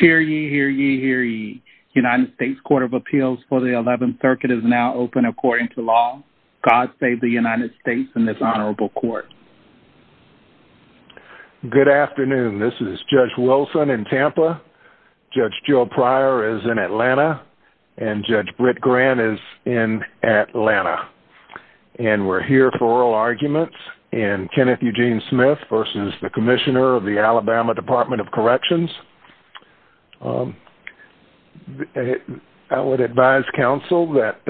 Hear ye, hear ye, hear ye. United States Court of Appeals for the 11th Circuit is now open according to law. God save the United States and this honorable court. Good afternoon. This is Judge Wilson in Tampa, Judge Joe Pryor is in Atlanta, and Judge Britt Grant is in Atlanta. And we're here for oral arguments in Kenneth Eugene Smith v. Commissioner of the Alabama Department of Corrections. I would advise counsel that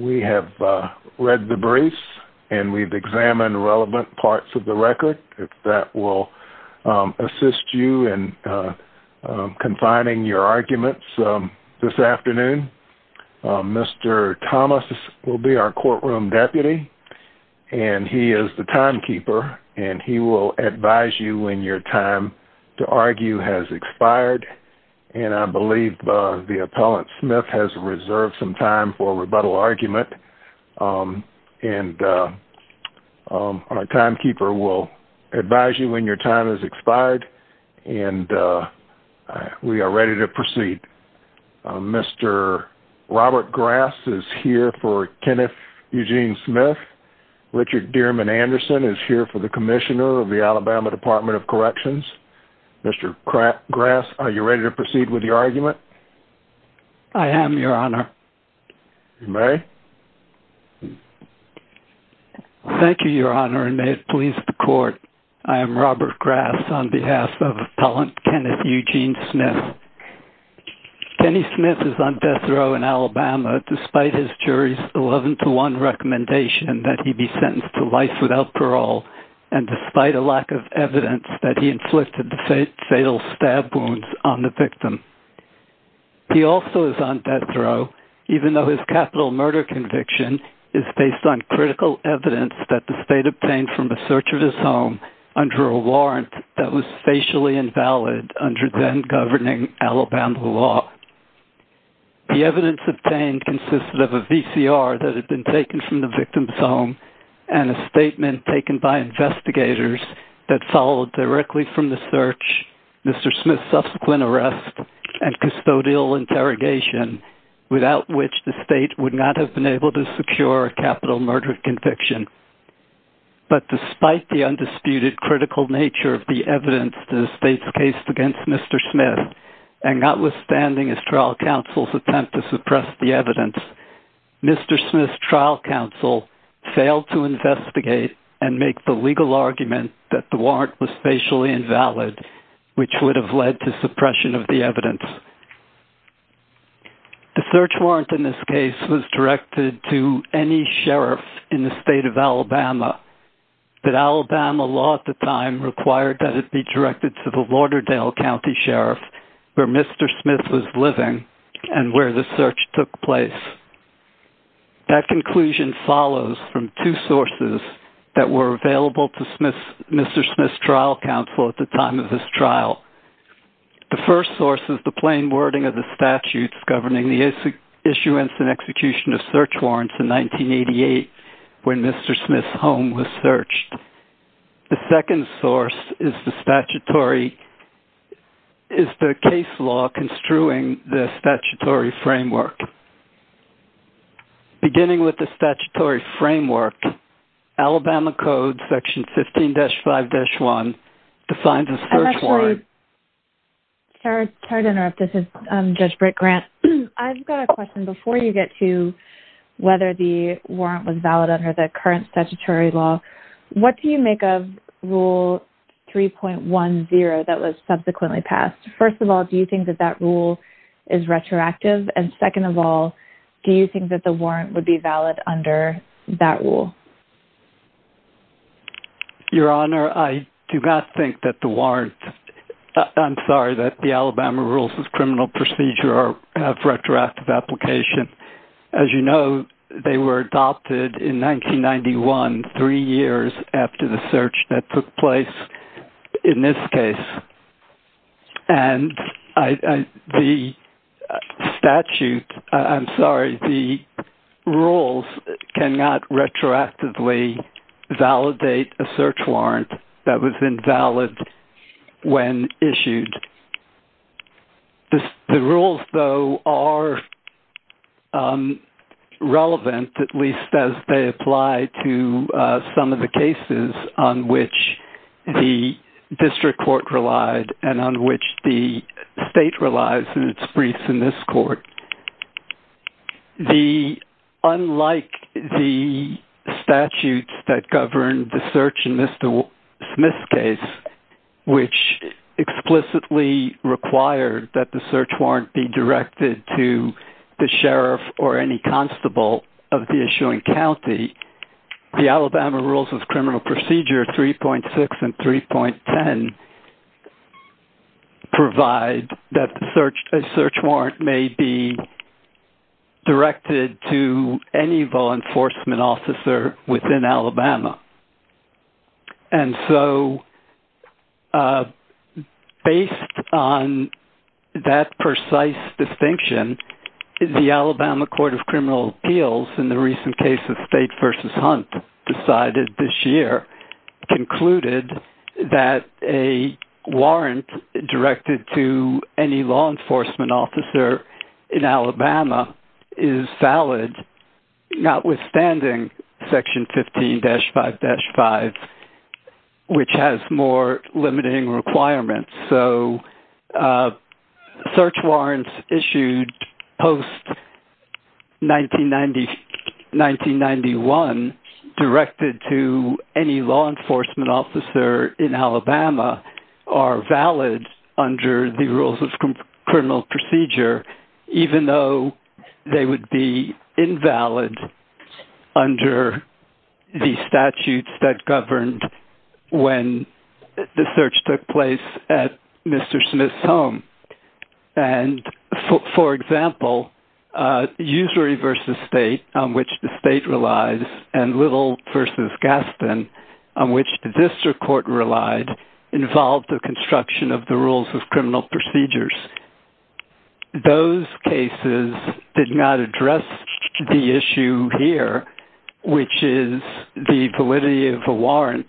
we have read the briefs, and we've examined relevant parts of the record that will assist you in confining your arguments this afternoon. Mr. Thomas will be our courtroom deputy, and he is the timekeeper, and he will advise you when your time to argue has expired. And I believe the appellant Smith has reserved some time for rebuttal argument. And our timekeeper will advise you when your time has expired. And we are ready to proceed. Mr. Robert Grass is here for Kenneth Eugene Smith. Richard Dierman Anderson is here for the Commissioner of the Alabama Department of Corrections. Mr. Grass, are you ready to proceed with your argument? I am, Your Honor. You may. Thank you, Your Honor, and may it please the court. I am Robert Grass on behalf of Appellant Kenneth Eugene Smith. Kenny Smith is on death row in Alabama despite his jury's recommendation that he be sentenced to life without parole, and despite a lack of evidence that he inflicted the fatal stab wounds on the victim. He also is on death row even though his capital murder conviction is based on critical evidence that the state obtained from a search of his home under a warrant that was facially invalid under then-governing Alabama law. The evidence obtained consisted of a VCR that had been taken from the victim's home and a statement taken by investigators that followed directly from the search, Mr. Smith's subsequent arrest, and custodial interrogation, without which the state would not have been able to secure a capital murder conviction. But despite the undisputed critical nature of the evidence in the state's case against Mr. Smith, and notwithstanding his trial counsel's attempt to suppress the evidence, Mr. Smith's trial counsel failed to investigate and make the legal argument that the warrant was facially invalid, which would have led to suppression of the evidence. The search warrant in this case was directed to any sheriff in the state of Alabama, but Alabama law at the time required that it be directed to the Lauderdale County Sheriff where Mr. Smith was living and where the search took place. That conclusion follows from two sources that were available to Mr. Smith's trial counsel at the time of his trial. The first source is the plain wording of the statutes governing the issuance and execution of search warrants in 1988 when Mr. Smith's home was searched. The second source is the statutory is the case law construing the statutory framework. Beginning with the statutory framework, Alabama code section 15-5-1 defines a search warrant. Judge Brick-Grant, I've got a question. Before you get to whether the warrant was valid under the current statutory law, what do you make of Rule 3.10 that was subsequently passed? First of all, do you think that that rule is retroactive? And second of all, do you think that the warrant would be valid under that rule? Your Honor, I do not think that the warrant, I'm sorry, that the Alabama Rules of Criminal Procedure have retroactive application. As you know, they were adopted in 1991, three years after the search that took place in this case. And the statute, I'm sorry, the statute did not retroactively validate a search warrant that was invalid when issued. The rules, though, are relevant, at least as they apply to some of the cases on which the district court relied and on which the state relies in its briefs in this court. The, unlike the statutes that govern the search in Mr. Smith's case, which explicitly required that the search warrant be directed to the sheriff or any constable of the issuing county, the Alabama Rules of Criminal Procedure 3.6 and 3.10 provide that a search warrant may be directed to any law enforcement officer within Alabama. And so, based on that precise distinction, the Alabama Court of Criminal Appeals, in the recent case of State v. Hunt, decided this year, concluded that a warrant directed to any law enforcement officer in Alabama is valid, notwithstanding Section 15-5-5, which has more limiting requirements. So, search warrants issued post-1991 directed to any law enforcement officer in Alabama are valid under the Rules of Criminal Procedure, even though they would be invalid under the statutes that governed when the search took place at Mr. Smith's home. And, for example, Usury v. State, on which the state relies, and Little v. Gaston, on which the district court relied, involved the construction of the Rules of Criminal Procedures. Those cases did not address the issue here, which is the validity of a warrant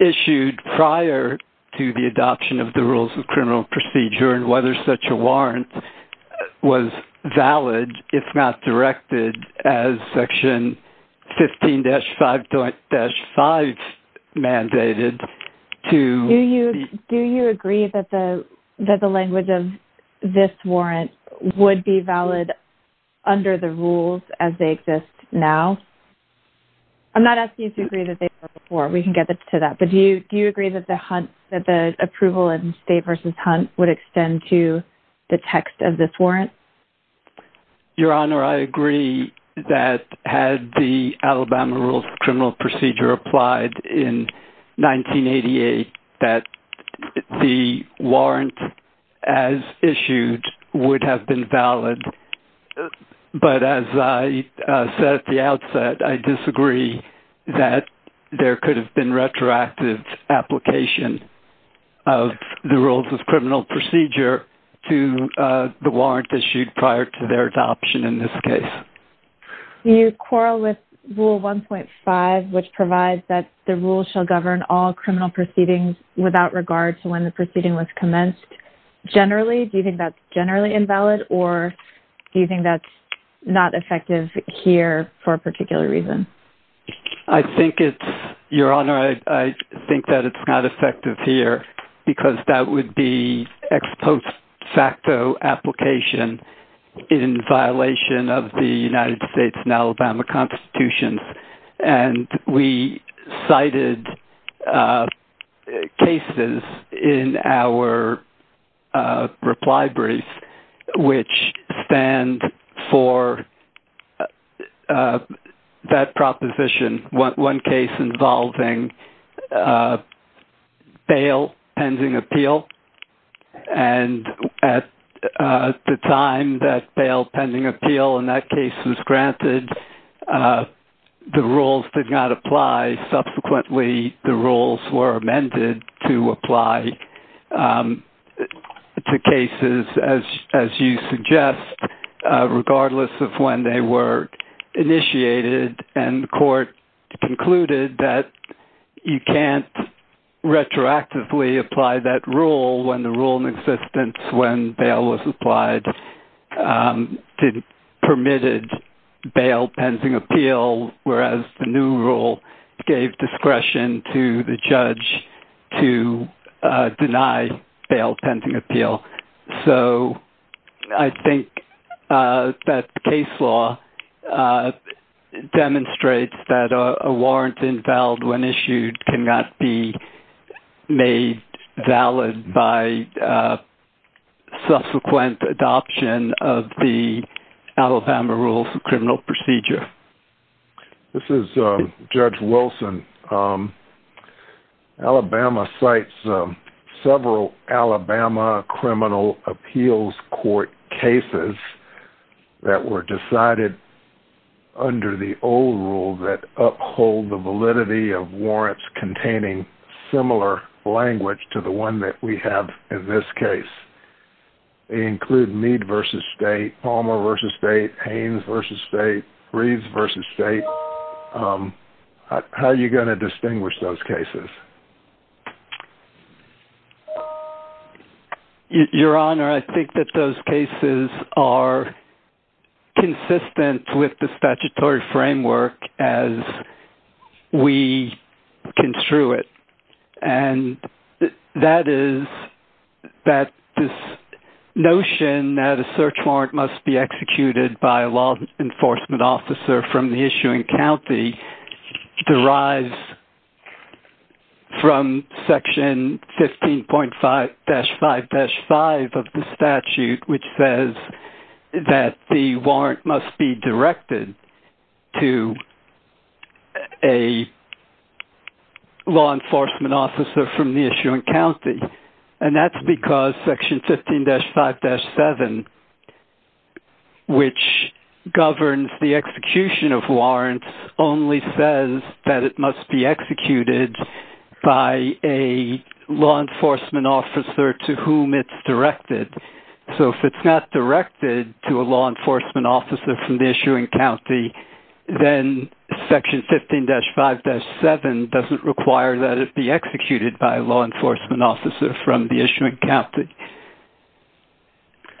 issued prior to the adoption of the Rules of Criminal Procedure, and whether such a warrant was valid, if not directed, as Section 15-5-5 mandated. Do you agree that the language of this warrant would be valid under the rules as they exist now? I'm not asking you to agree that they were before. We can get to that. But do you agree that the approval in State v. Hunt would extend to the text of this warrant? Your Honor, I agree that had the Alabama Rules of Criminal Procedure applied in 1988, that the warrant as issued would have been valid. But, as I said at the outset, I disagree that there could have been retroactive application of the Rules of Criminal Procedure to the warrant issued prior to their adoption in this case. Do you quarrel with Rule 1.5, which provides that the rules shall govern all criminal proceedings without regard to when the proceeding was commenced? Generally, do you think that's generally invalid, or do you think that's not effective here for a particular reason? I think it's—Your Honor, I think that it's not effective here because that would be ex post facto application in violation of the United States and Alabama Constitutions. And we cited cases in our reply brief which stand for that proposition, one case involving bail pending appeal. And at the time that bail pending appeal in that case was granted, the rules did not apply. Subsequently, the rules were amended to apply to cases, as you suggest, regardless of when they were initiated. And the court concluded that you can't retroactively apply that rule when the rule in existence when bail was applied did—permitted bail pending appeal, whereas the new rule gave discretion to the judge to deny bail pending appeal. So I think that the case law demonstrates that a warrant invalid when of the Alabama Rules of Criminal Procedure. This is Judge Wilson. Alabama cites several Alabama criminal appeals court cases that were decided under the old rule that uphold the validity of warrants containing similar language to the one that we have in this case. They include Meade v. State, Palmer v. State, Haines v. State, Reeds v. State. How are you going to distinguish those cases? Your Honor, I think that those cases are consistent with the statutory framework as we construe it. And that is that this notion that a search warrant must be executed by a law enforcement officer from the issuing county derives from Section 15.5-5-5 of the statute, which says that the warrant must be directed to a law enforcement officer from the issuing county. And that's because Section 15-5-7, which governs the execution of warrants, only says that it must be executed by a law enforcement officer to whom it's directed. So if it's not directed to a law enforcement officer from the issuing county, then Section 15-5-7 doesn't require that it be executed by a law enforcement officer from the issuing county.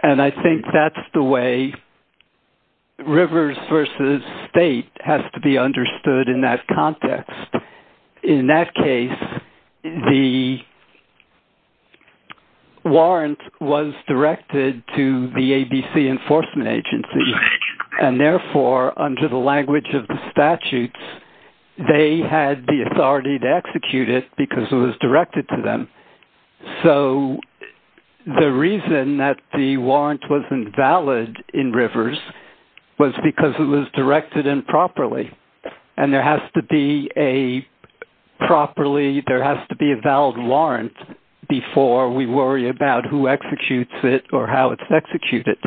And I think that's the way Rivers v. State has to be understood in that context. In that case, the warrant was directed to the ABC enforcement agency. And therefore, under the language of the statutes, they had the authority to execute it because it was directed to them. So the reason that the warrant was invalid in Rivers was because it was directed improperly. And there has to be a valid warrant before we worry about who executes it or how it's executed.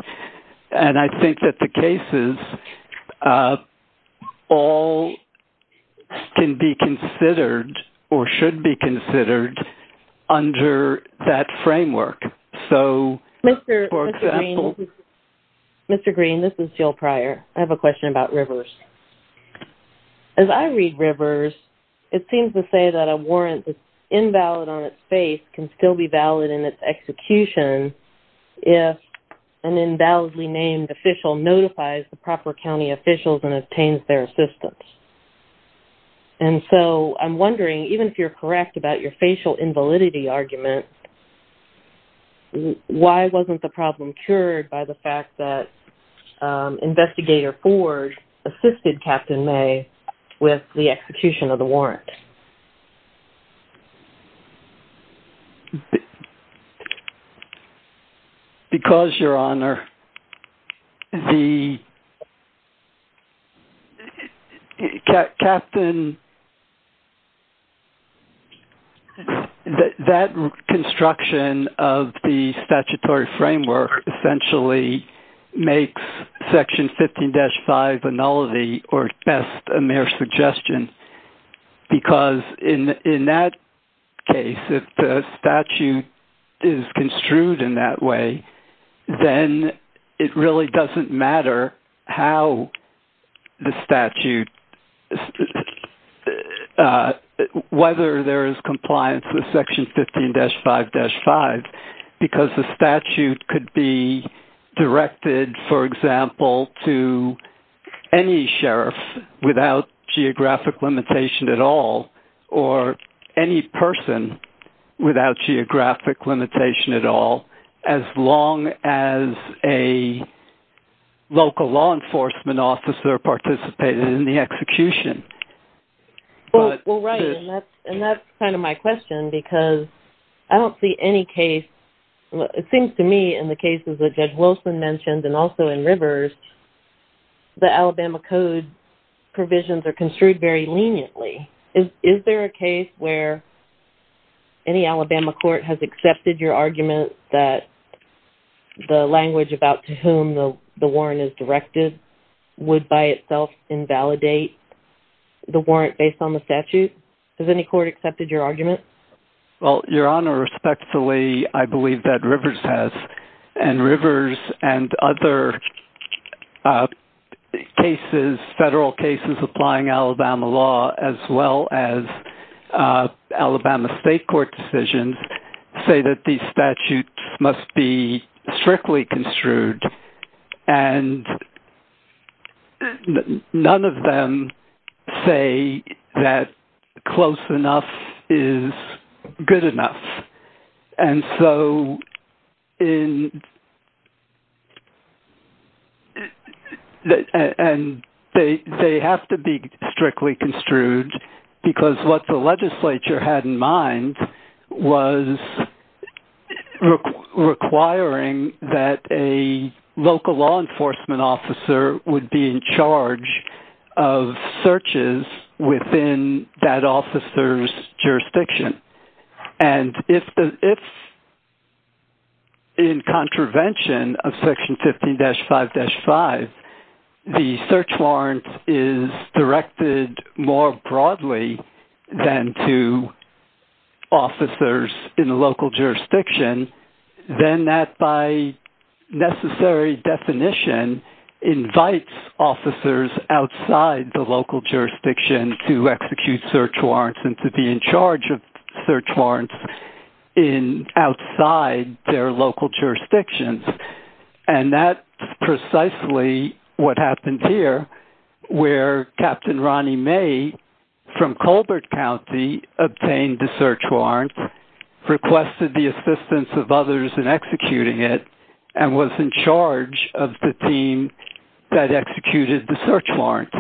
And I think that the cases all can be considered or should be considered under that framework. Mr. Green, this is Jill Pryor. I have a question about Rivers. As I read Rivers, it seems to say that a warrant that's invalid on its face can still be valid in execution if an invalidly named official notifies the proper county officials and obtains their assistance. And so I'm wondering, even if you're correct about your facial invalidity argument, why wasn't the problem cured by the fact that Investigator Ford assisted Captain May with the execution of the warrant? Well, because, Your Honor, that construction of the statutory framework essentially makes Section 15-5 nullity or at best a mere suggestion. Because in that case, if the statute is construed in that way, then it really doesn't matter whether there is compliance with Section 15-5-5 because the statute could be directed, for example, to any sheriff without geographic limitation at all as long as a local law enforcement officer participated in the execution. Well, right. And that's kind of my question because I don't see any case, it seems to me in the cases that Judge Wilson mentioned and also in Rivers, the Alabama Code provisions are construed very leniently. Is there a case where any Alabama court has accepted your argument that the language about to whom the warrant is directed would by itself invalidate the warrant based on the statute? Has any court accepted your argument? Well, Your Honor, respectfully, I believe that Rivers has. And Rivers and other cases, federal cases applying Alabama law as well as Alabama state court decisions say that the statute must be strictly construed. And none of them say that close enough is good enough. And they have to be strictly construed because what the legislature had in mind was requiring that a local law enforcement officer would be in charge of searches within that officer's jurisdiction. And if in contravention of Section 15-5-5, the search warrant is directed more broadly than to officers in the local jurisdiction, then that by necessary definition invites officers outside the local jurisdiction to execute search warrants and to be in charge of search warrants outside their local jurisdictions. And that's precisely what happened here where Captain Ronnie May from Colbert County obtained the search warrant, requested the assistance of others in executing it, and was in charge of the team that executed the search warrant.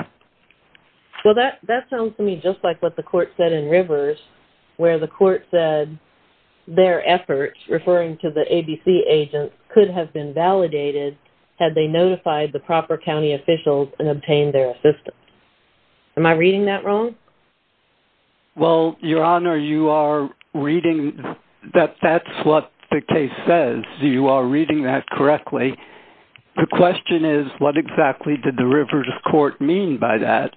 Well, that sounds to me just like what the court said in Rivers, where the court said their efforts, referring to the ABC agents, could have been validated had they notified the proper county officials and obtained their assistance. Am I reading that wrong? Well, Your Honor, that's what the case says. You are reading that correctly. The question is, what exactly did the Rivers Court mean by that?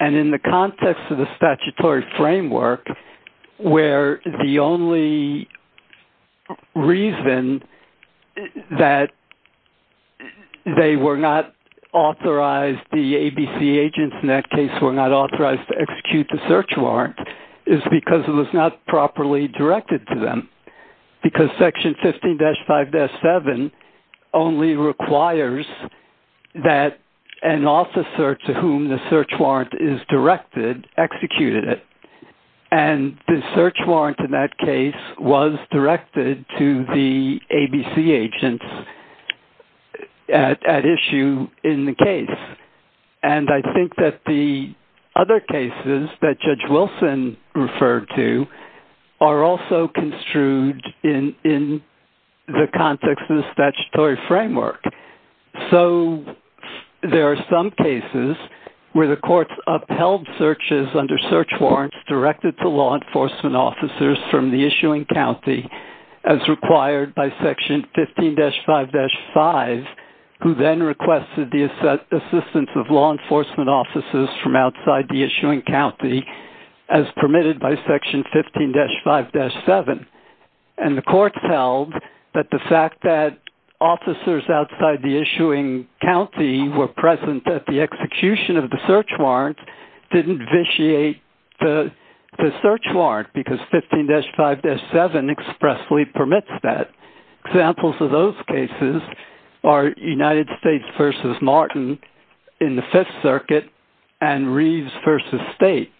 And in the context of the statutory framework, where the only reason that they were not authorized, the ABC agents in that case, were not authorized to execute the search warrant is because it was not properly directed to them. Because Section 15-5-7 only requires that an officer to whom the search warrant is directed executed it. And the search warrant in that case was directed to the ABC agents at issue in the case. And I think that the other cases that Judge Wilson referred to are also construed in the context of the statutory framework. So there are some cases where the courts upheld searches under search warrants directed to law enforcement officers from the issuing county, as required by Section 15-5-5, who then requested the assistance of law enforcement officers from outside the issuing county, as permitted by Section 15-5-7. And the court held that the fact that officers outside the issuing county were present at the execution of the search warrant didn't vitiate the search warrant, because 15-5-7 expressly permits that. Examples of those cases are United States v. Martin in the Fifth Circuit and Reeves v. State.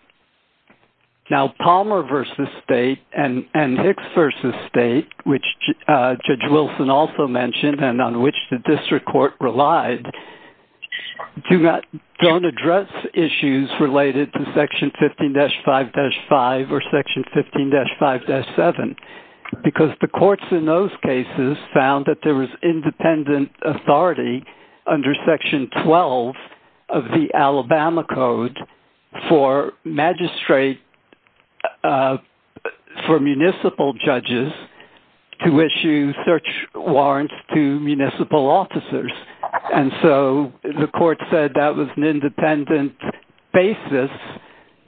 Now Palmer v. State and Hicks v. State, which Judge Wilson also mentioned, and on which the district court relied, don't address issues related to Section 15-5-5 or Section 15-5-7, because the courts in those cases found that there was independent authority under Section 12 of the Alabama Code for magistrate, for municipal judges, to issue search warrants to municipal officers. And so the court said that was an independent basis,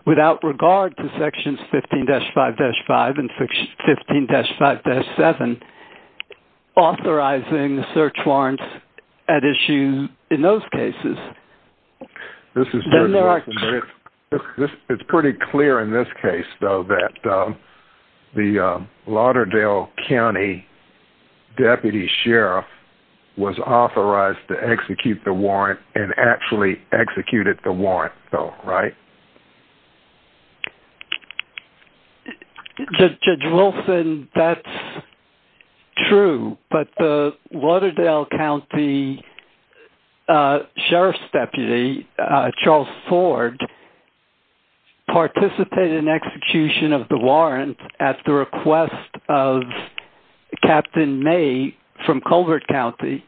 without regard to Sections 15-5-5 and 15-5-7, authorizing search warrants at issue in those cases. This is Judge Wilson, but it's pretty clear in this case, though, that the Lauderdale County Deputy Sheriff was authorized to execute the warrant and actually executed the warrant, though, right? Judge Wilson, that's true, but the Lauderdale County Sheriff's Deputy, Charles Ford, participated in execution of the warrant at the request of Captain May from Colbert County.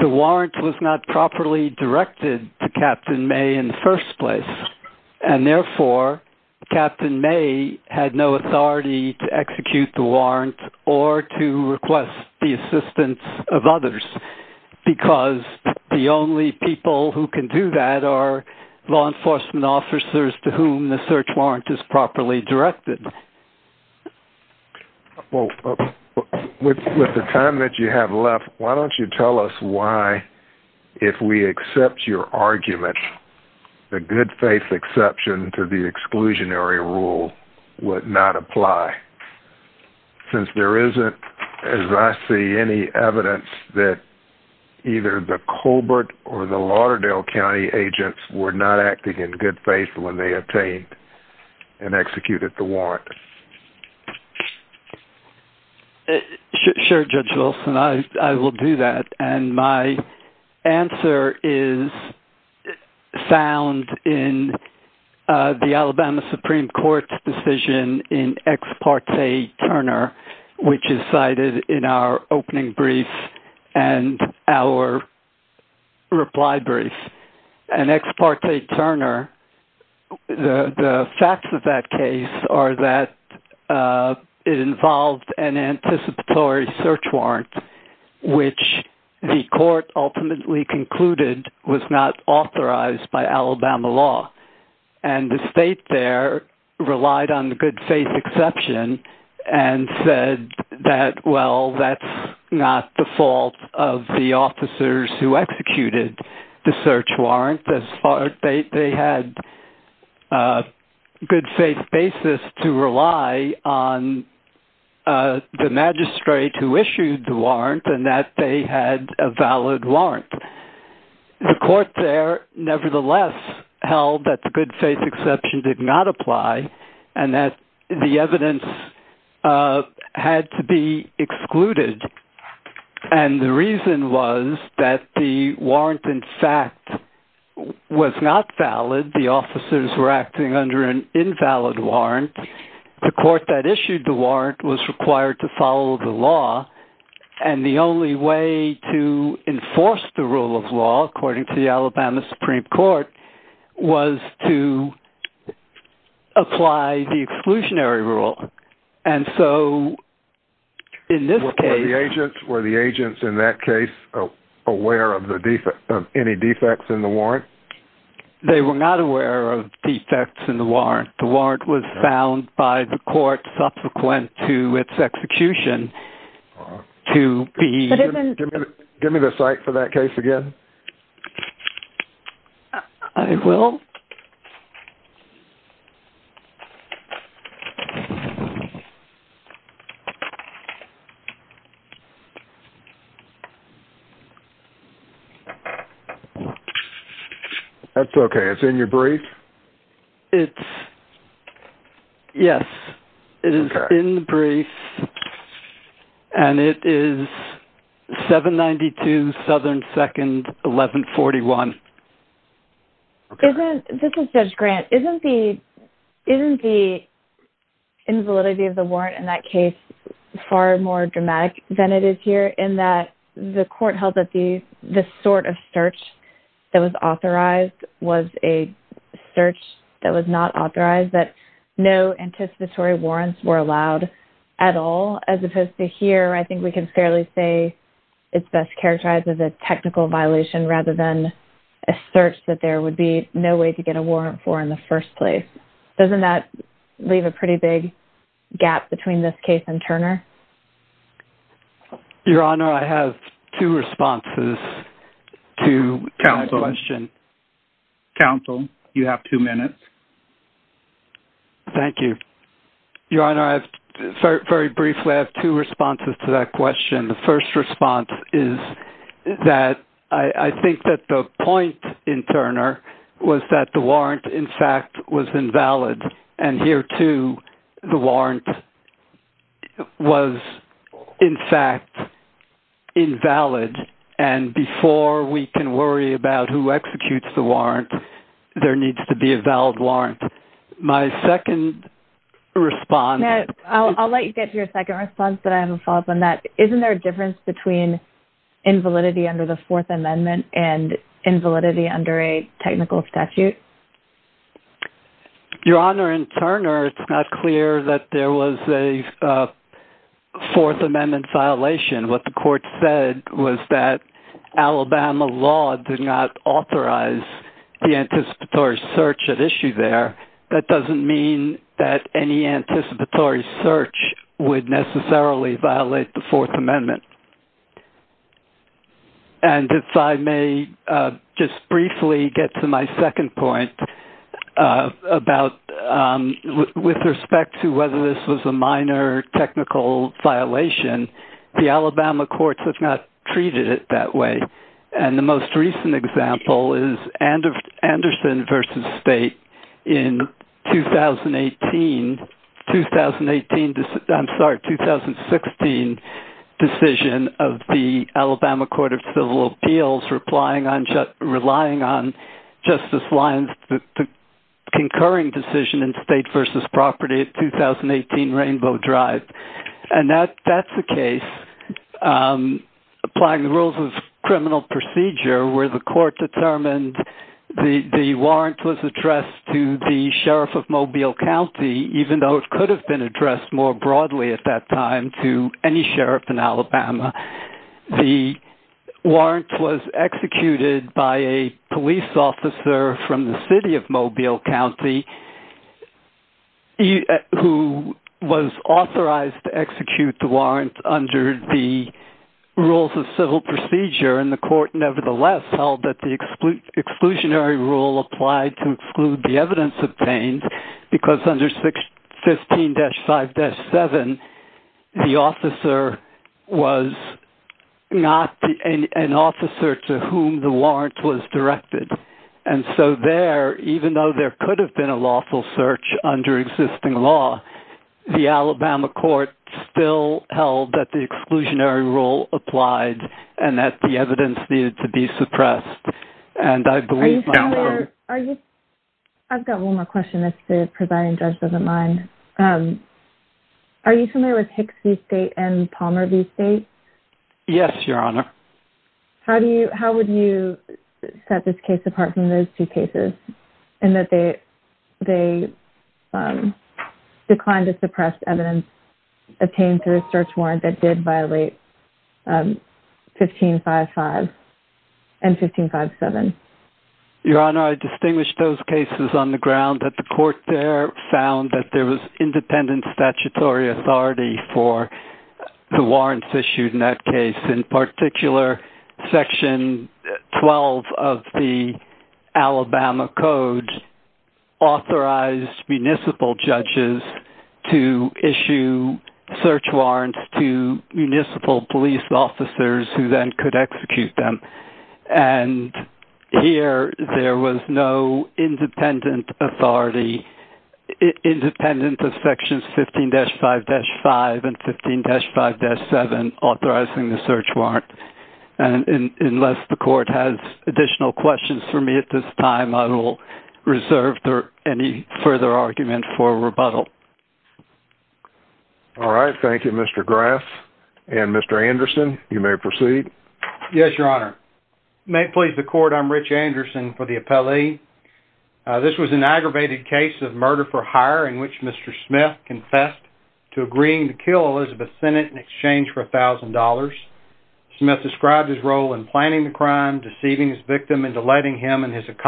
The warrant was not properly directed to Captain May in the first place, and therefore Captain May had no authority to execute the warrant or to request the assistance of others, because the only people who can do that are law enforcement officers to whom the search warrant is properly directed. Well, with the time that you have left, why don't you tell us why, if we accept your argument, the good faith exception to the evidence that either the Colbert or the Lauderdale County agents were not acting in good faith when they obtained and executed the warrant? Sure, Judge Wilson, I will do that, and my answer is found in the Alabama Supreme Court's decision in Ex Parte Turner, which is cited in our opening brief and our reply brief. In Ex Parte Turner, the facts of that case are that it involved an anticipatory search warrant, which the court ultimately concluded was not authorized by Alabama law, and the state there relied on good faith exception and said that, well, that's not the fault of the officers who executed the search warrant. They had a good faith basis to rely on the magistrate who issued the warrant, and that they had a valid warrant. The court there, nevertheless, held that the good faith exception did not apply and that the evidence had to be excluded, and the reason was that the warrant, in fact, was not valid. The officers were acting under an invalid warrant. The court that issued the warrant was required to follow the law, and the only way to enforce the rule of law, according to the Alabama Supreme Court, was to apply the exclusionary rule, and so in this case... Were the agents in that case aware of any defects in the warrant? They were not aware of defects in the warrant. The warrant was found by the court subsequent to execution to be... Give me the cite for that case again. I will. Okay. That's okay. It's in your brief? It's... Yes, it is in the brief, and it is 792 Southern 2nd, 1141. Okay. This is Judge Grant. Isn't the invalidity of the warrant in that case far more dramatic than it is here, in that the court held that the sort of search that was authorized was a search that was not authorized, that no anticipatory warrants were as opposed to here? I think we can fairly say it's best characterized as a technical violation, rather than a search that there would be no way to get a warrant for in the first place. Doesn't that leave a pretty big gap between this case and Turner? Your Honor, I have two responses to that question. Counsel, you have two minutes. Thank you. Your Honor, I have... Very briefly, I have two responses to that question. The first response is that I think that the point in Turner was that the warrant, in fact, was invalid. And here, too, the warrant was, in fact, invalid. And before we can worry about who executes the warrant, my second response... I'll let you get to your second response, but I have a follow-up on that. Isn't there a difference between invalidity under the Fourth Amendment and invalidity under a technical statute? Your Honor, in Turner, it's not clear that there was a Fourth Amendment violation. What the court said was that Alabama law did not authorize the anticipatory search at issue there. That doesn't mean that any anticipatory search would necessarily violate the Fourth Amendment. And if I may just briefly get to my second point about... With respect to whether this was a minor technical violation, the Alabama courts have not treated it that way. And the most recent example is Anderson v. State in 2018... I'm sorry, 2016 decision of the Alabama Court of Civil Appeals on just relying on Justice Lyons' concurring decision in State v. Property at 2018 Rainbow Drive. And that's the case, applying the rules of criminal procedure, where the court determined the warrant was addressed to the sheriff of Mobile County, even though it could have been executed by a police officer from the city of Mobile County, who was authorized to execute the warrant under the rules of civil procedure. And the court, nevertheless, held that the exclusionary rule applied to exclude the evidence obtained, because under 15-5-7, the officer was not an officer to whom the warrant was directed. And so there, even though there could have been a lawful search under existing law, the Alabama court still held that the exclusionary rule applied, and that the evidence needed to be presiding judge doesn't mind. Are you familiar with Hicks v. State and Palmer v. State? Yes, Your Honor. How would you set this case apart from those two cases, in that they declined to suppress evidence obtained through a search warrant that did violate 15-5-5 and 15-5-7? Your Honor, I distinguish those cases on the ground that the court there found that there was independent statutory authority for the warrants issued in that case. In particular, Section 12 of the Alabama Code authorized municipal judges to issue search warrants to police officers who then could execute them. And here, there was no independent authority, independent of Sections 15-5-5 and 15-5-7 authorizing the search warrant. And unless the court has additional questions for me at this time, I will reserve any further argument for rebuttal. All right. Thank you, Mr. Graf. And Mr. Anderson, you may proceed. Yes, Your Honor. May it please the court, I'm Rich Anderson for the appellee. This was an aggravated case of murder for hire in which Mr. Smith confessed to agreeing to kill Elizabeth Sennett in exchange for $1,000. Smith described his role in planning the crime, deceiving his victim, and delighting him and his make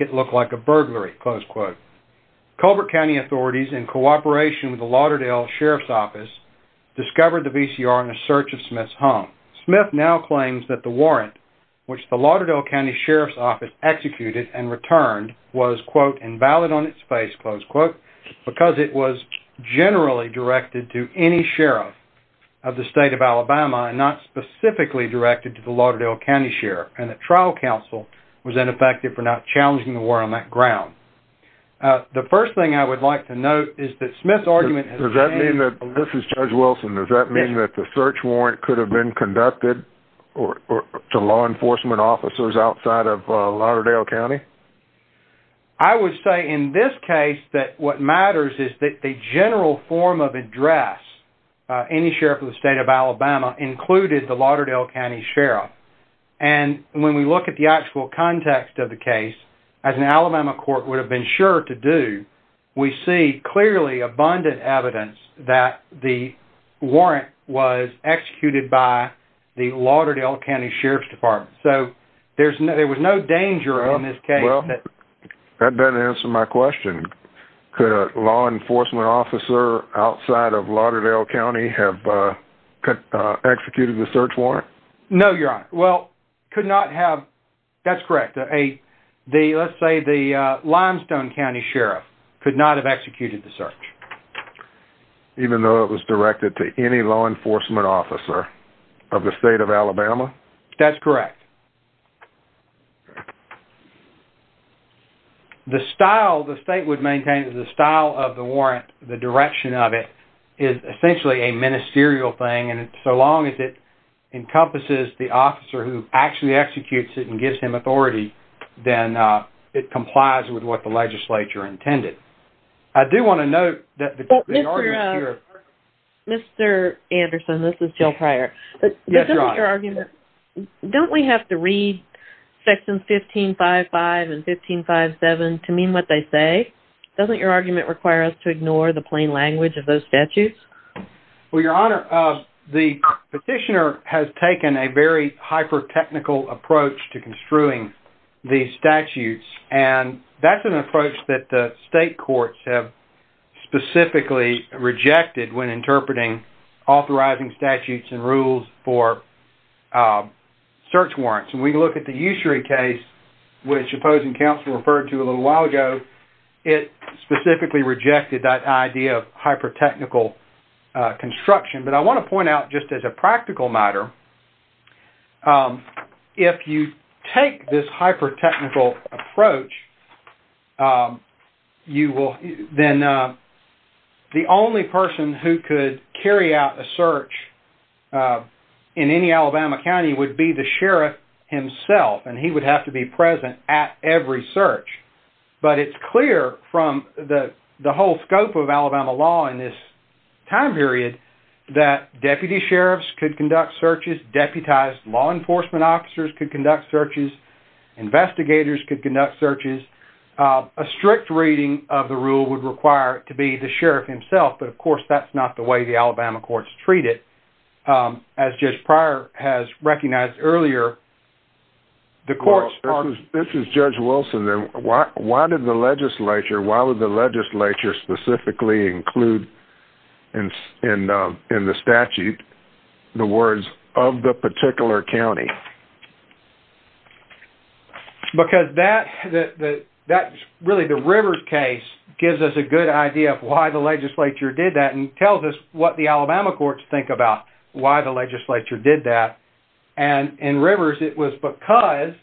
it look like a burglary. Colbert County authorities, in cooperation with the Lauderdale Sheriff's Office, discovered the VCR in a search of Smith's home. Smith now claims that the warrant which the Lauderdale County Sheriff's Office executed and returned was, quote, invalid on its face, close quote, because it was generally directed to any sheriff of the state of Alabama and not specifically directed to the Lauderdale County Sheriff. And the trial counsel was ineffective for not challenging the warrant on that ground. The first thing I would like to note is that Smith's argument... Does that mean that... This is Judge Wilson. Does that mean that the search warrant could have been conducted to law enforcement officers outside of Lauderdale County? I would say in this case that what matters is that the general form of address, any sheriff of the state of Alabama, included the Lauderdale County Sheriff. And when we look at the actual context of the case, as an Alabama court would have been sure to do, we see clearly abundant evidence that the warrant was executed by the Lauderdale County Sheriff's Department. So there was no danger in this case. That doesn't answer my question. Could a law enforcement officer outside of Lauderdale County have executed the search warrant? No, Your Honor. Well, could not have... That's correct. Let's say the Limestone County Sheriff could not have executed the search. Even though it was directed to any law enforcement officer of the state of Alabama? That's correct. The style the state would maintain, the style of the warrant, the direction of it is essentially a ministerial thing. And so long as it encompasses the officer who actually executes it and gives him authority, then it complies with what the legislature intended. I do want to note that... Mr. Anderson, this is Jill Pryor. Don't we have to read sections 15-5-5 and 15-5-7 to mean what they say? Doesn't your argument require us to ignore the plain language of those statutes? Well, Your Honor, the petitioner has taken a very hyper-technical approach to construing these statutes. And that's an approach that the state courts have specifically rejected when interpreting authorizing statutes and rules for search warrants. When we look at the Ushery case, which opposing counsel referred to a little while ago, it specifically rejected that idea of hyper-technical construction. But I want to point out, just as a practical matter, if you take this hyper-technical approach, then the only person who could carry out a search in any Alabama county would be the sheriff himself, and he would have to be present at every search. But it's clear from the whole scope of Alabama law in this time period that deputy sheriffs could conduct searches, deputized law enforcement officers could conduct searches, investigators could conduct searches. A strict reading of the rule would require it to be the sheriff himself, but of course, that's not the way the Alabama courts treat it. As Judge Pryor has recognized earlier, the courts- This is Judge Wilson. Why would the legislature specifically include in the statute the words, of the particular county? Because that's really the Rivers case, gives us a good idea of why the legislature did that, and tells us what the Alabama courts think about why the legislature did that. And in Rivers, it was because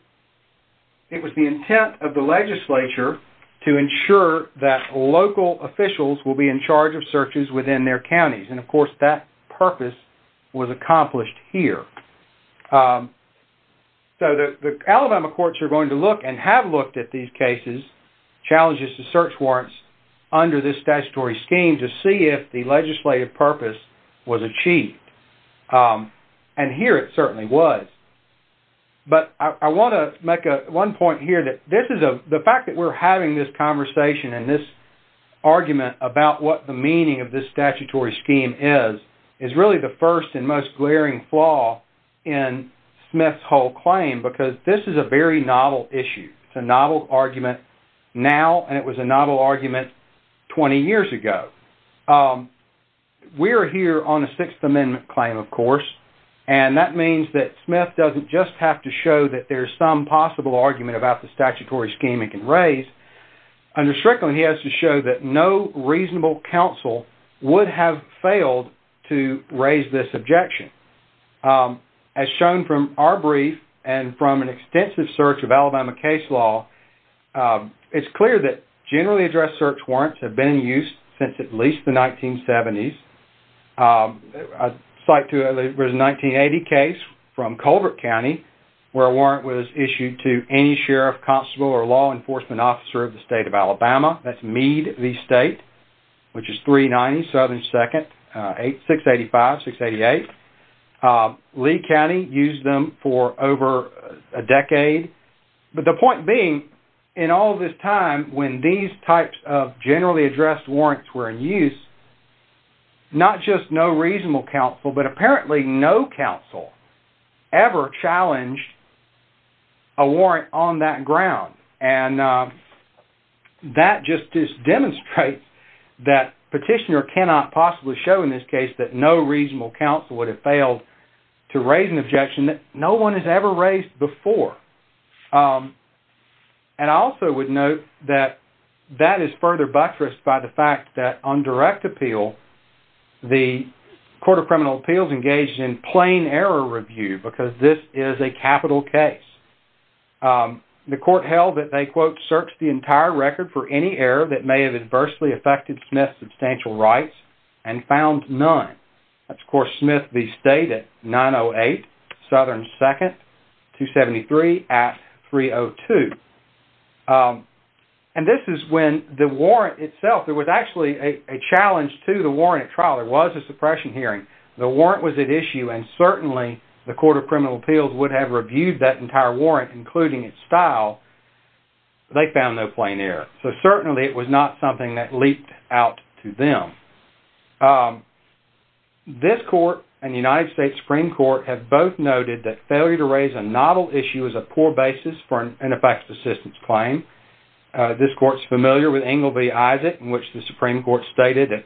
it was the intent of the legislature to ensure that local officials will be in charge of searches within their counties. And of course, that purpose was accomplished here. So the Alabama courts are going to look and have looked at these cases, challenges to search warrants, under this statutory scheme to see if the legislative purpose was achieved. And here it certainly was. But I want to make one point here that the fact that we're having this conversation and this argument about what the meaning of this statutory scheme is, is really the first and most glaring flaw in Smith's whole claim, because this is a very novel issue. It's a novel argument now, and it was a novel argument 20 years ago. We're here on a Sixth Amendment claim, of course, and that means that Smith doesn't just have to show that there's some possible argument about the statutory scheme it can raise. Under Strickland, he has to show that no reasonable counsel would have failed to raise this objection. As shown from our brief and from an extensive search of Alabama case law, it's clear that generally addressed search warrants have been in use since at least the 1970s. A site to a 1980 case from Colbert County, where a warrant was issued to any sheriff, constable, or law enforcement officer of the state of Alabama. That's Meade v. State, which is 390 Southern 2nd, 685-688. Lee County used them for over a decade. But the point being, in all this time when these types of generally addressed warrants were in use, not just no reasonable counsel, but apparently no counsel ever challenged a warrant on that ground. And that just demonstrates that petitioner cannot possibly show in this case that no reasonable counsel would have failed to raise an objection that no one has ever raised before. And I also would note that that is further buttressed by the fact that on direct appeal, the Court of Criminal Appeals engaged in plain error review because this is a capital case. The Court held that they, quote, searched the entire record for any error that may have adversely affected Smith's substantial rights and found none. That's, of course, Smith v. State at 908 Southern 2nd, 273 at 302. And this is when the warrant itself, there was actually a challenge to the warrant at trial. There was a suppression hearing. The warrant was at issue and certainly the Court of Criminal Appeals would have reviewed that entire warrant, including its style. They found no plain error. So certainly it was not something that leaped out to them. This Court and the United States Supreme Court have both noted that failure to raise a novel issue is a poor basis for an ineffective assistance claim. This Court's familiar with Engle v. Isaac, in which the Supreme Court stated that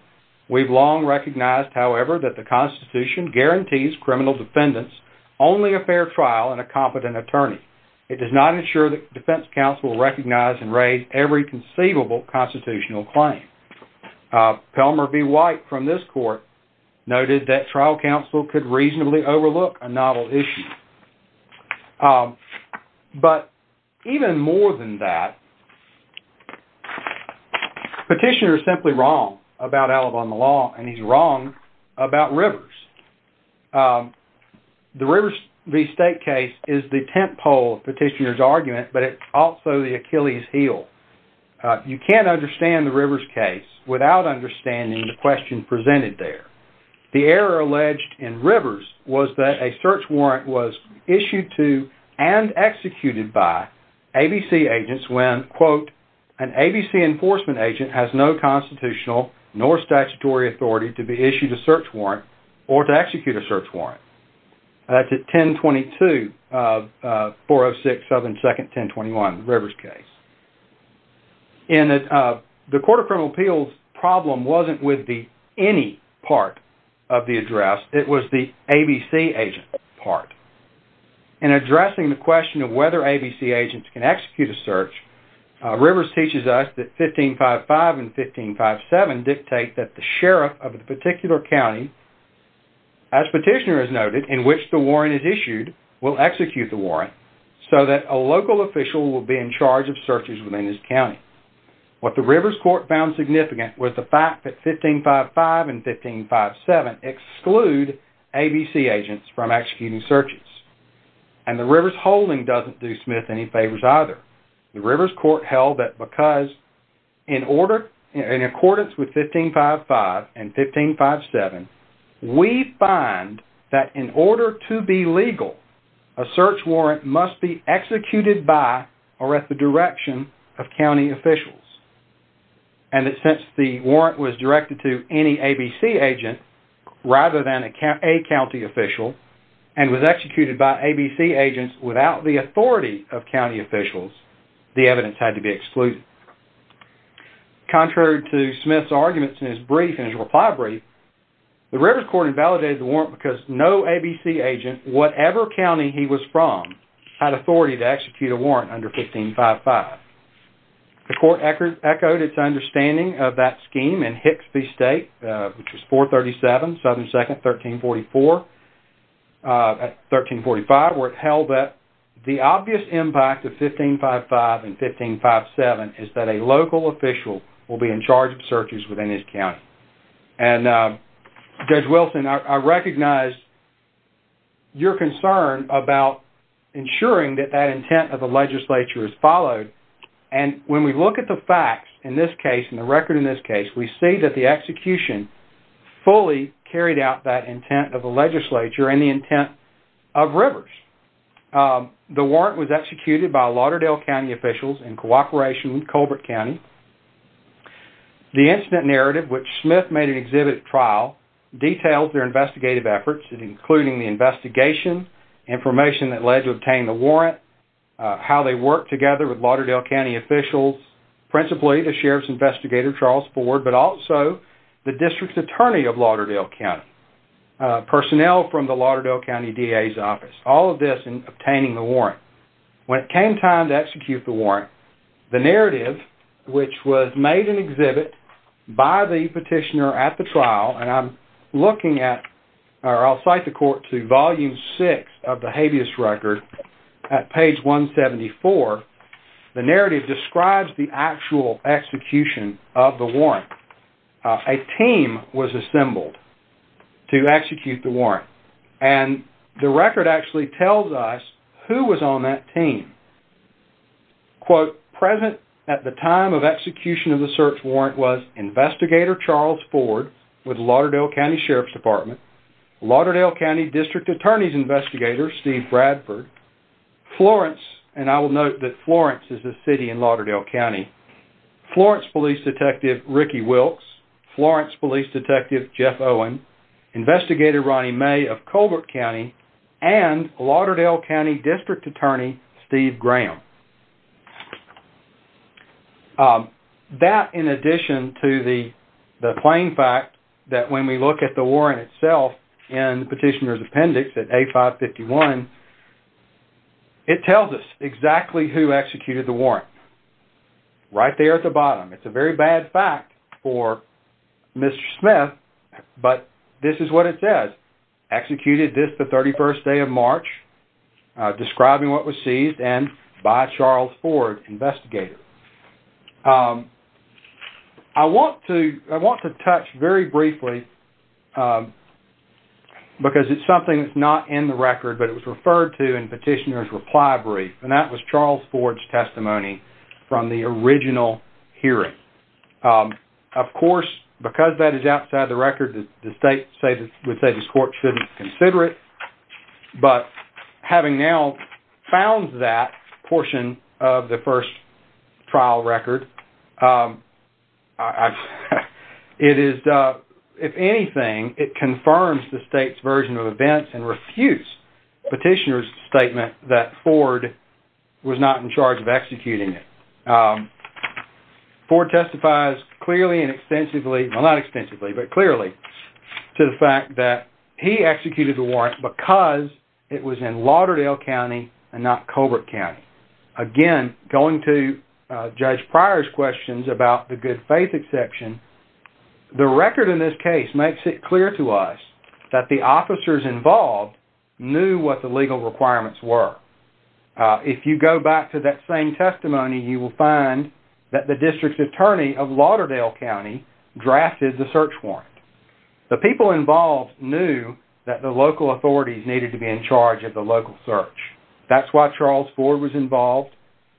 we've long recognized, however, that the Constitution guarantees criminal defendants only a fair trial and a competent attorney. It does not ensure that defense counsel will recognize and raise every conceivable constitutional claim. Pelmer v. White from this Court noted that trial counsel could reasonably overlook a novel issue. But even more than that, Petitioner is simply wrong about Alabama law and he's wrong about Rivers. The Rivers v. State case is the tentpole of Petitioner's argument, but it's also the Achilles heel. You can't understand the Rivers case without understanding the question presented there. The error alleged in Rivers was that a search warrant was issued to and executed by ABC agents when, quote, an ABC enforcement agent has no constitutional nor statutory authority to be issued a search warrant or to execute a search warrant. That's at 1022-406-7-1021, the Rivers case. The Court of Criminal Appeals' problem wasn't with the any part of the address, it was the ABC agent part. In addressing the question of whether ABC agents can execute a search, Rivers teaches us that 1555 and 1557 dictate that the sheriff of the particular county, as Petitioner has noted, in which the warrant is issued will execute the warrant so that a local official will be in charge of searches within his county. What the Rivers Court found significant was the fact that 1555 and 1557 exclude ABC agents from executing searches. And the Rivers holding doesn't do Smith any favors either. The Rivers Court held that because in accordance with 1555 and 1557, we find that in order to be legal, a search warrant must be executed by or at the direction of county officials. And that since the warrant was by ABC agents without the authority of county officials, the evidence had to be excluded. Contrary to Smith's arguments in his reply brief, the Rivers Court invalidated the warrant because no ABC agent, whatever county he was from, had authority to execute a warrant under 1555. The Court echoed its understanding of that scheme in Hixby State, which was 437, Southern 2nd, 1344, 1345, where it held that the obvious impact of 1555 and 1557 is that a local official will be in charge of searches within his county. And Judge Wilson, I recognize your concern about ensuring that that intent of the legislature is followed. And when we look at the facts in this case, in the record in this case, we see that the execution fully carried out that intent of the legislature and the intent of Rivers. The warrant was executed by Lauderdale County officials in cooperation with Colbert County. The incident narrative, which Smith made an exhibit at trial, details their investigative efforts including the investigation, information that led to obtain the warrant, how they worked together with Lauderdale County officials, principally the sheriff's investigator, Charles Ford, but also the district's attorney of Lauderdale County, personnel from the Lauderdale County DA's office, all of this in obtaining the warrant. When it came time to execute the warrant, the narrative, which was made an exhibit by the petitioner at the trial, and I'm looking at, or I'll cite the Court to Volume 6 of the warrant, a team was assembled to execute the warrant. And the record actually tells us who was on that team. Quote, present at the time of execution of the search warrant was investigator Charles Ford with Lauderdale County Sheriff's Department, Lauderdale County district attorney's investigator, Steve Bradford, Florence, and I will note that Florence is a city in Lauderdale County, Florence police detective Ricky Wilkes, Florence police detective Jeff Owen, investigator Ronnie May of Colbert County, and Lauderdale County district attorney Steve Graham. That in addition to the plain fact that when we look at the warrant itself in the petitioner's appendix at A551, it tells us exactly who executed the warrant. Right there at the bottom. It's a very bad fact for Mr. Smith, but this is what it says. Executed this the 31st day of March, describing what was seized, and by Charles Ford, investigator. I want to touch very briefly, because it's something that's not in the record, but it was referred to in petitioner's reply brief, and that was Charles Ford's testimony from the original hearing. Of course, because that is outside the record, the state would say this court shouldn't consider it, but having now found that portion of the first trial record, it is, if anything, it confirms the state's version of events and refutes petitioner's Ford was not in charge of executing it. Ford testifies clearly and extensively, well not extensively, but clearly to the fact that he executed the warrant because it was in Lauderdale County and not Colbert County. Again, going to Judge Pryor's questions about the good faith exception, the record in this case makes it clear to us that the officers involved knew what the legal requirements were. If you go back to that same testimony, you will find that the district's attorney of Lauderdale County drafted the search warrant. The people involved knew that the local authorities needed to be in charge of the local search. That's why Charles Ford was involved.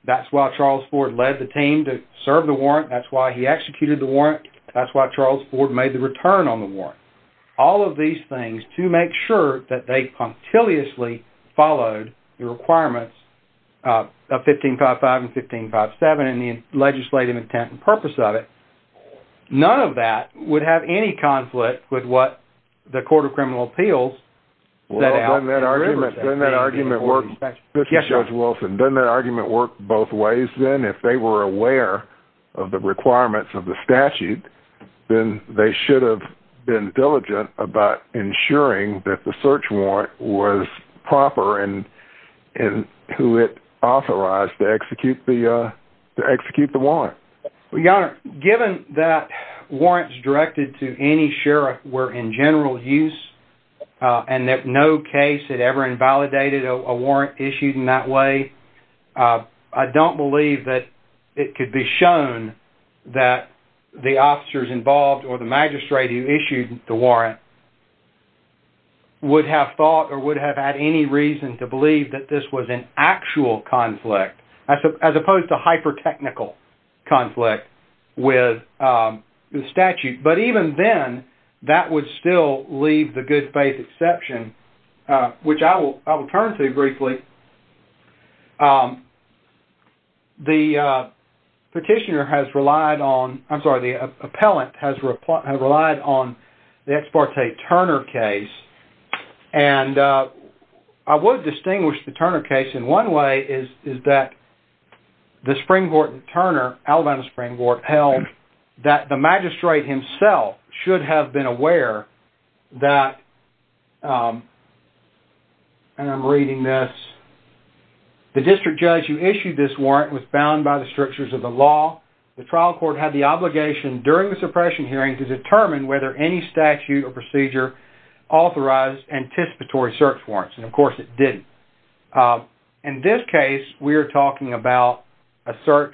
That's why Charles Ford led the team to serve the warrant. That's why he executed the warrant. That's why Charles Ford made the that they punctiliously followed the requirements of 1555 and 1557 and the legislative intent and purpose of it. None of that would have any conflict with what the Court of Criminal Appeals set out. Doesn't that argument work both ways then? If they were aware of the requirements of statute, then they should have been diligent about ensuring that the search warrant was proper and who it authorized to execute the warrant. Your Honor, given that warrants directed to any sheriff were in general use and that no case had ever invalidated a warrant issued in that way, I don't believe that it could be shown that the officers involved or the magistrate who issued the warrant would have thought or would have had any reason to believe that this was an actual conflict as opposed to hyper-technical conflict with the statute. But even then, that would still leave the good faith exception, which I will turn to briefly. The petitioner has relied on, I'm sorry, the appellant has relied on the Ex Parte Turner case and I would distinguish the Turner case in one way is that the Spring-Gorton Turner, Alabama Spring-Gorton held that the magistrate himself should have been aware that, and I'm reading this, the district judge who issued this warrant was bound by the strictures of the law. The trial court had the obligation during the suppression hearing to determine whether any statute or procedure authorized anticipatory search warrants and of course it didn't. In this case, we are talking about a search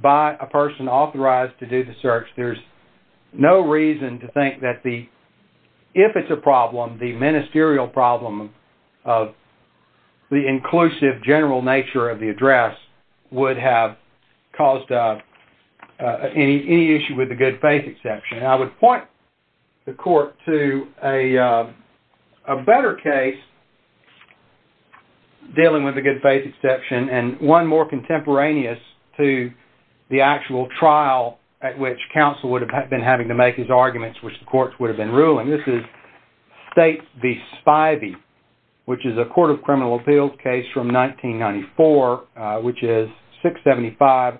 by a person authorized to do the search. There's no reason to think that if it's a problem, the ministerial problem of the inclusive general nature of the address would have caused any issue with the good faith exception. I would point the court to a better case dealing with the good faith exception and one more contemporaneous to the actual trial at which counsel would have been having to make his arguments, which the courts would have been ruling. This is States v. Spivey, which is a court of criminal appeals case from 1994, which is 675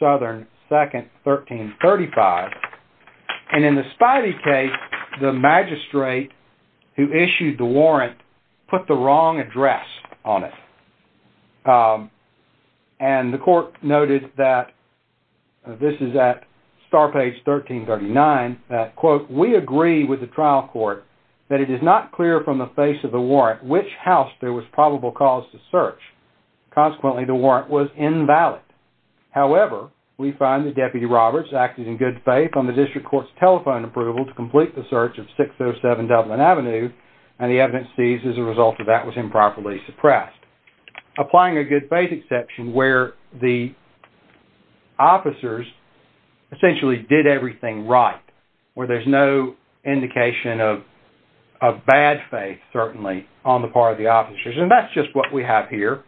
Southern 2nd, 1335. And in the Spivey case, the magistrate who issued the warrant put the wrong address on it. And the court noted that, this is at star page 1339, that quote, we agree with the trial court that it is not clear from the face of the warrant which house there was probable cause to search. Consequently, the warrant was invalid. However, we find that Deputy Roberts acted in good faith on the district court's telephone approval to complete the search of 607 Dublin Avenue and the evidence seized as a result of that was improperly suppressed. Applying a good faith exception where the officers essentially did everything right, where there's no indication of bad faith certainly on the part of the officers. And that's just what we have here.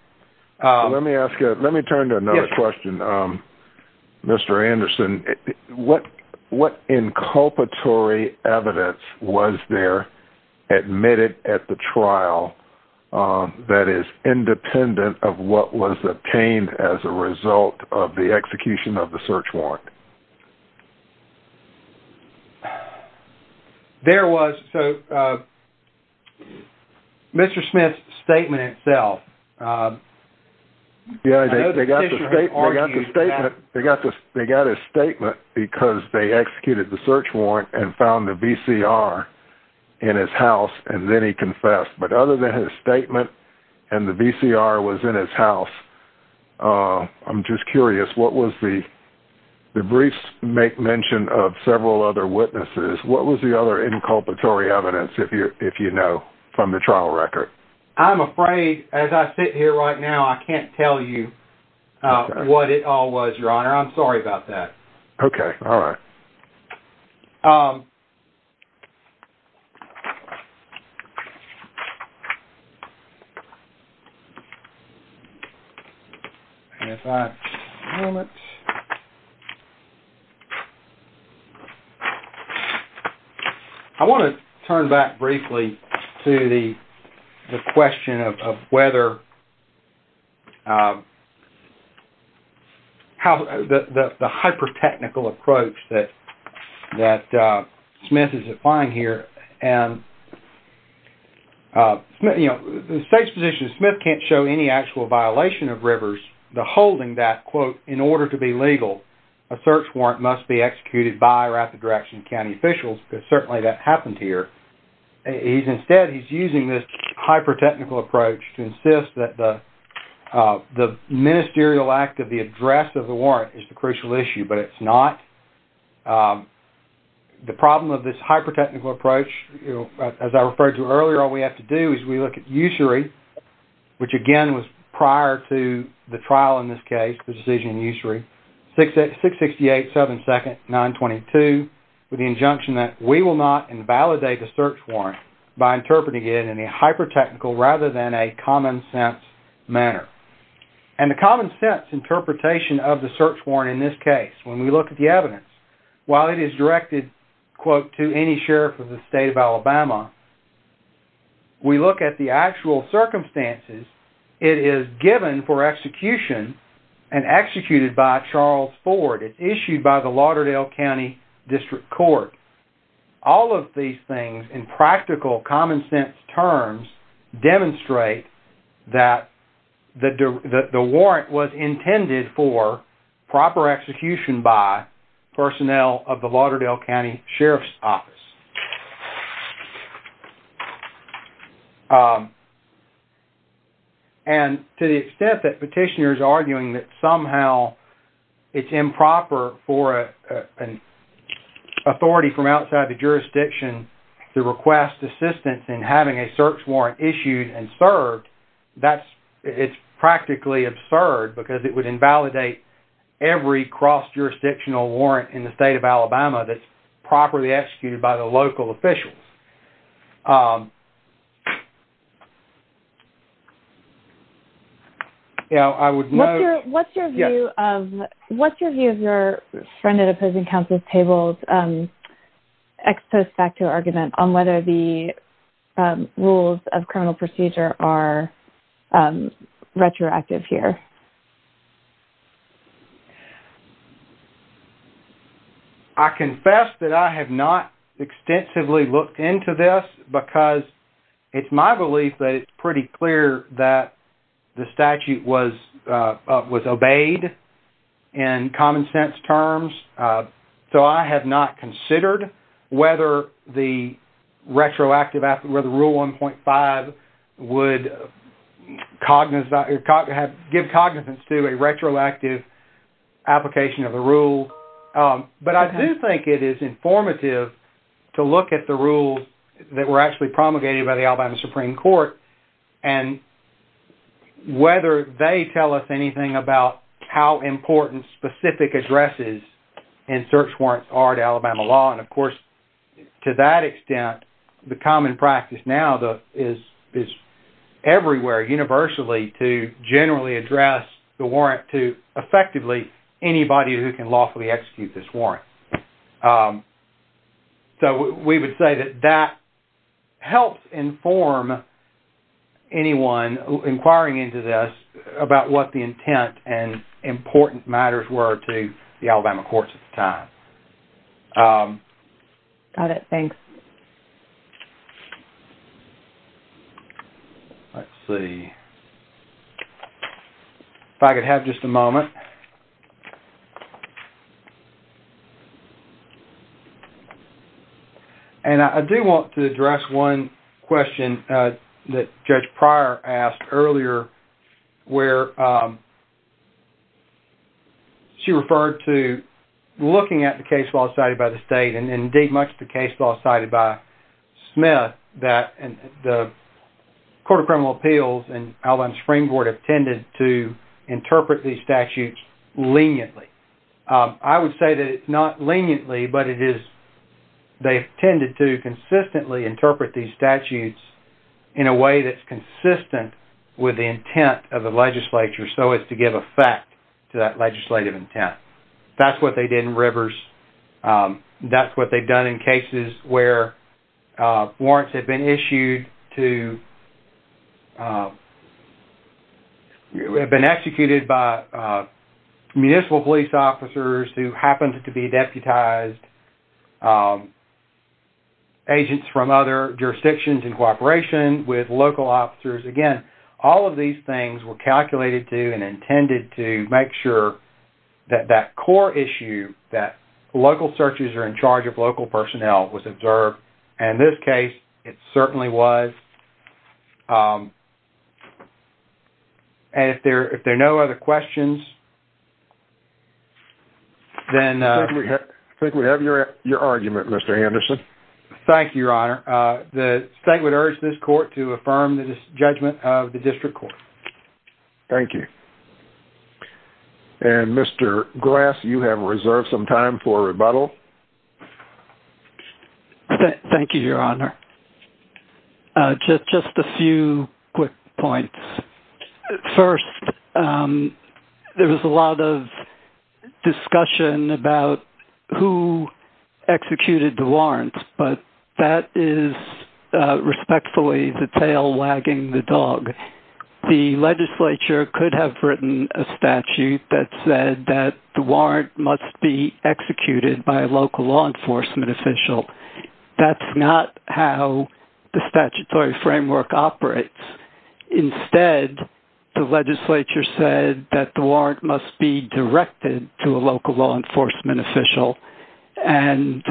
Let me ask you, let me turn to another question. Mr. Anderson, what inculpatory evidence was there admitted at the trial that is independent of what was obtained as a result of the execution of the Mr. Smith's statement itself? Yeah, they got the statement. They got his statement because they executed the search warrant and found the VCR in his house and then he confessed. But other than his statement and the VCR was in his house, I'm just curious, what was the brief make mention of several other from the trial record? I'm afraid as I sit here right now, I can't tell you what it all was, Your Honor. I'm sorry about that. Okay. All right. I want to turn back briefly to the question of whether the hyper-technical approach that Smith is applying here. The state's position is Smith can't show any actual violation of Rivers. The holding that, quote, in order to be legal, a search warrant must be executed by or at the direction of county officials because certainly that happened here. Instead, he's using this hyper-technical approach to insist that the ministerial act of the address of the warrant is the crucial issue, but it's not. The problem of this hyper-technical approach, as I referred to earlier, all we have to do is we look at usury, which again was prior to the trial in this case, the decision in usury, 668-7-922, with the injunction that we will not invalidate a search warrant by interpreting it in a hyper-technical rather than a common-sense manner. And the common-sense interpretation of the search warrant in this case, when we look at the evidence, while it is directed, quote, to any sheriff of the state of Alabama, we look at the actual circumstances it is given for execution and executed by Charles Ford. It's issued by the Lauderdale County District Court. All of these things in practical common-sense terms demonstrate that the warrant was intended for proper execution by personnel of the Lauderdale County Sheriff's Office. And to the extent that petitioner is arguing that somehow it's improper for an authority from outside the jurisdiction to request assistance in having a search warrant issued and served, that's, it's practically absurd because it would invalidate every cross-jurisdictional warrant in the state of Alabama that's properly executed by the local ex post facto argument on whether the rules of criminal procedure are retroactive here. I confess that I have not extensively looked into this because it's my belief that it's pretty clear that the statute was obeyed in common-sense terms. So, I have not considered whether the retroactive, where the Rule 1.5 would give cognizance to a retroactive application of the rule. But I do think it is informative to look at the rules that were actually promulgated by Alabama Supreme Court and whether they tell us anything about how important specific addresses in search warrants are to Alabama law. And of course, to that extent, the common practice now is everywhere universally to generally address the warrant to effectively anybody who can lawfully inform anyone inquiring into this about what the intent and important matters were to the Alabama courts at the time. Got it. Thanks. Let's see. And I do want to address one question that Judge Pryor asked earlier where she referred to looking at the case law cited by the state and indeed much of the case law cited by Smith that the Court of Criminal Appeals and Alabama Supreme Court have tended to leniently. I would say that it's not leniently, but they've tended to consistently interpret these statutes in a way that's consistent with the intent of the legislature so as to give effect to that legislative intent. That's what they did in Rivers. That's what they've done in cases where you have been executed by municipal police officers who happened to be deputized agents from other jurisdictions in cooperation with local officers. Again, all of these things were calculated to and intended to make sure that that core issue, that local searches are in charge of local personnel, was observed. And in this case, it certainly was. And if there are no other questions, then I think we have your argument, Mr. Anderson. Thank you, Your Honor. The state would urge this court to affirm the judgment of the district court. Thank you. And Mr. Grass, you have reserved some time for rebuttal. Thank you, Your Honor. Just a few quick points. First, there was a lot of discussion about who executed the warrants, but that is respectfully the tail wagging the dog. The legislature could have written a statute that said that the warrant must be executed by a local law enforcement official. That's not how the statutory framework operates. Instead, the legislature said that the warrant must be directed to a local law enforcement official. And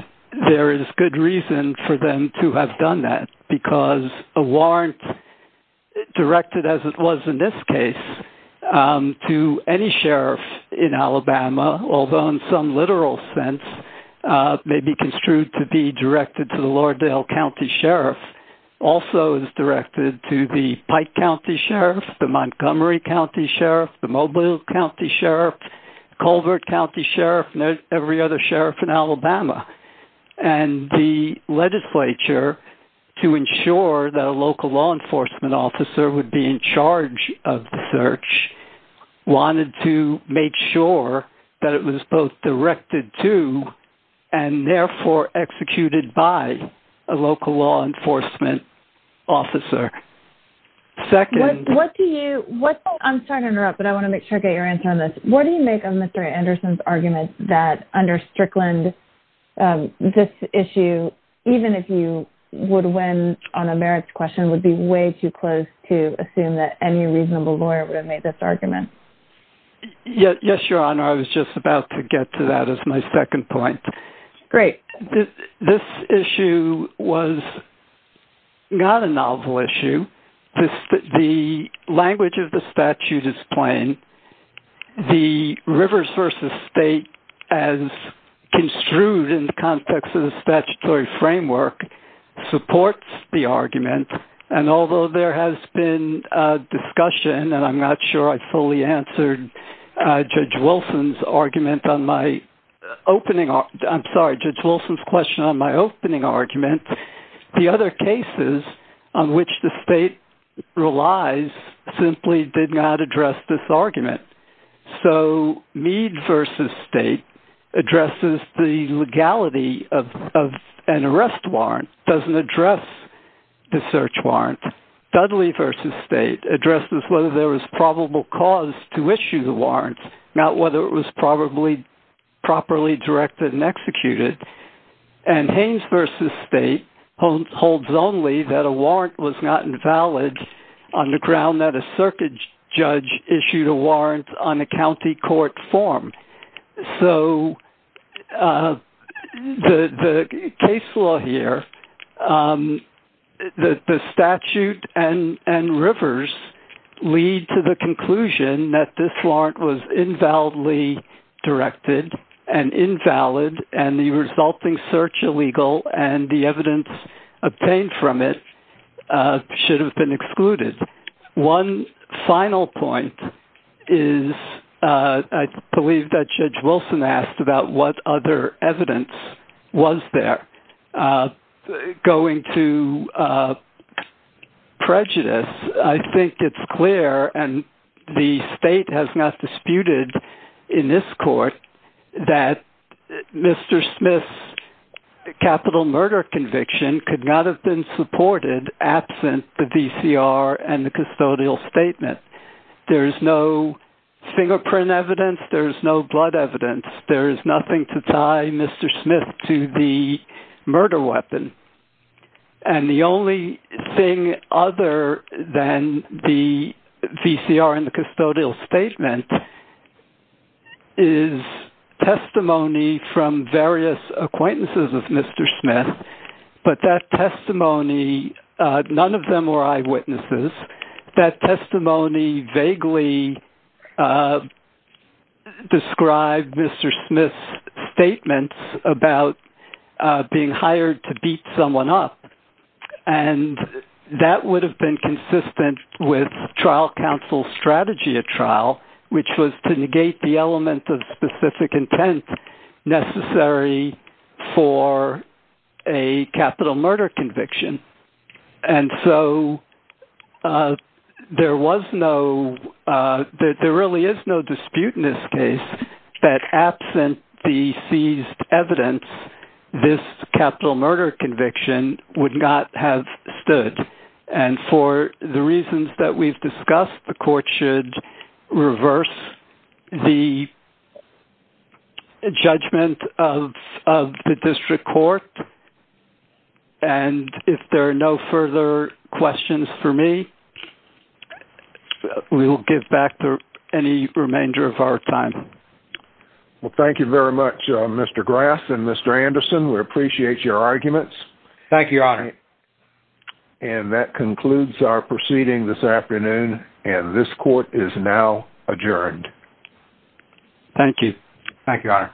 there is good reason for them to have done that, because a warrant directed, as it was in this case, to any sheriff in Alabama, although in some literal sense, may be construed to be directed to the Lauderdale County Sheriff, also is directed to the Pike County Sheriff, the Montgomery County Sheriff, the Mobile County Sheriff, Colbert County Sheriff, and every other sheriff in Alabama. And the legislature, to ensure that a local law enforcement officer would be in charge of the search, wanted to make sure that it was both directed to and therefore executed by a local law enforcement officer. Second... What do you... I'm sorry to interrupt, but I want to make sure I get your answer on this. What do you make of Mr. Anderson's argument that under Strickland, this issue, even if you would win on a merits question, would be way too close to assume that any reasonable lawyer would have made this argument? Yes, Your Honor. I was just about to get to that as my second point. Great. This issue was not a novel issue. The language of the statute is plain. The Rivers v. State, as construed in the context of the statutory framework, supports the argument. And although there has been a discussion, and I'm not sure I fully answered Judge Wilson's argument on my opening... I'm sorry, Judge Wilson's question on my opening argument, the other cases on which the state relies simply did not address this argument. So Meade v. State addresses the legality of an arrest warrant, doesn't address the search warrant. Dudley v. State addresses whether there was probable cause to issue the warrant, not whether it was probably properly directed and executed. And Haynes v. State holds only that a warrant was not invalid on the ground that a circuit judge issued a warrant on a county court form. So the case law here, the statute and Rivers lead to the conclusion that this warrant was invalidly directed and invalid, and the resulting search illegal and the evidence obtained from it should have been excluded. One final point is, I believe that Judge Wilson asked about what other evidence was there. Going to prejudice, I think it's clear, and the state has not disputed in this court, that Mr. Smith's capital murder conviction could not have been supported absent the VCR and the custodial statement. There is no fingerprint evidence, there is no blood evidence, there is nothing to tie Mr. Smith to the murder weapon. And the only thing other than the VCR and the custodial statement is testimony from various acquaintances of Mr. Smith, but that testimony, none of them were eyewitnesses. That testimony vaguely described Mr. Smith's statements about being hired to beat someone up, and that would have been consistent with trial counsel's strategy at trial, which was to negate the element of specific intent necessary for a capital murder conviction. And so there was no, there really is no dispute in this case that absent the seized evidence, this capital murder conviction would not have stood. And for the reasons that we've discussed, the court should reverse the judgment of the district court. And if there are no further questions for me, we will give back any remainder of our time. Well, thank you very much, Mr. Grass and Mr. Anderson. We appreciate your arguments. Thank you, Your Honor. And that concludes our proceeding this afternoon, and this court is now adjourned. Thank you, Your Honor.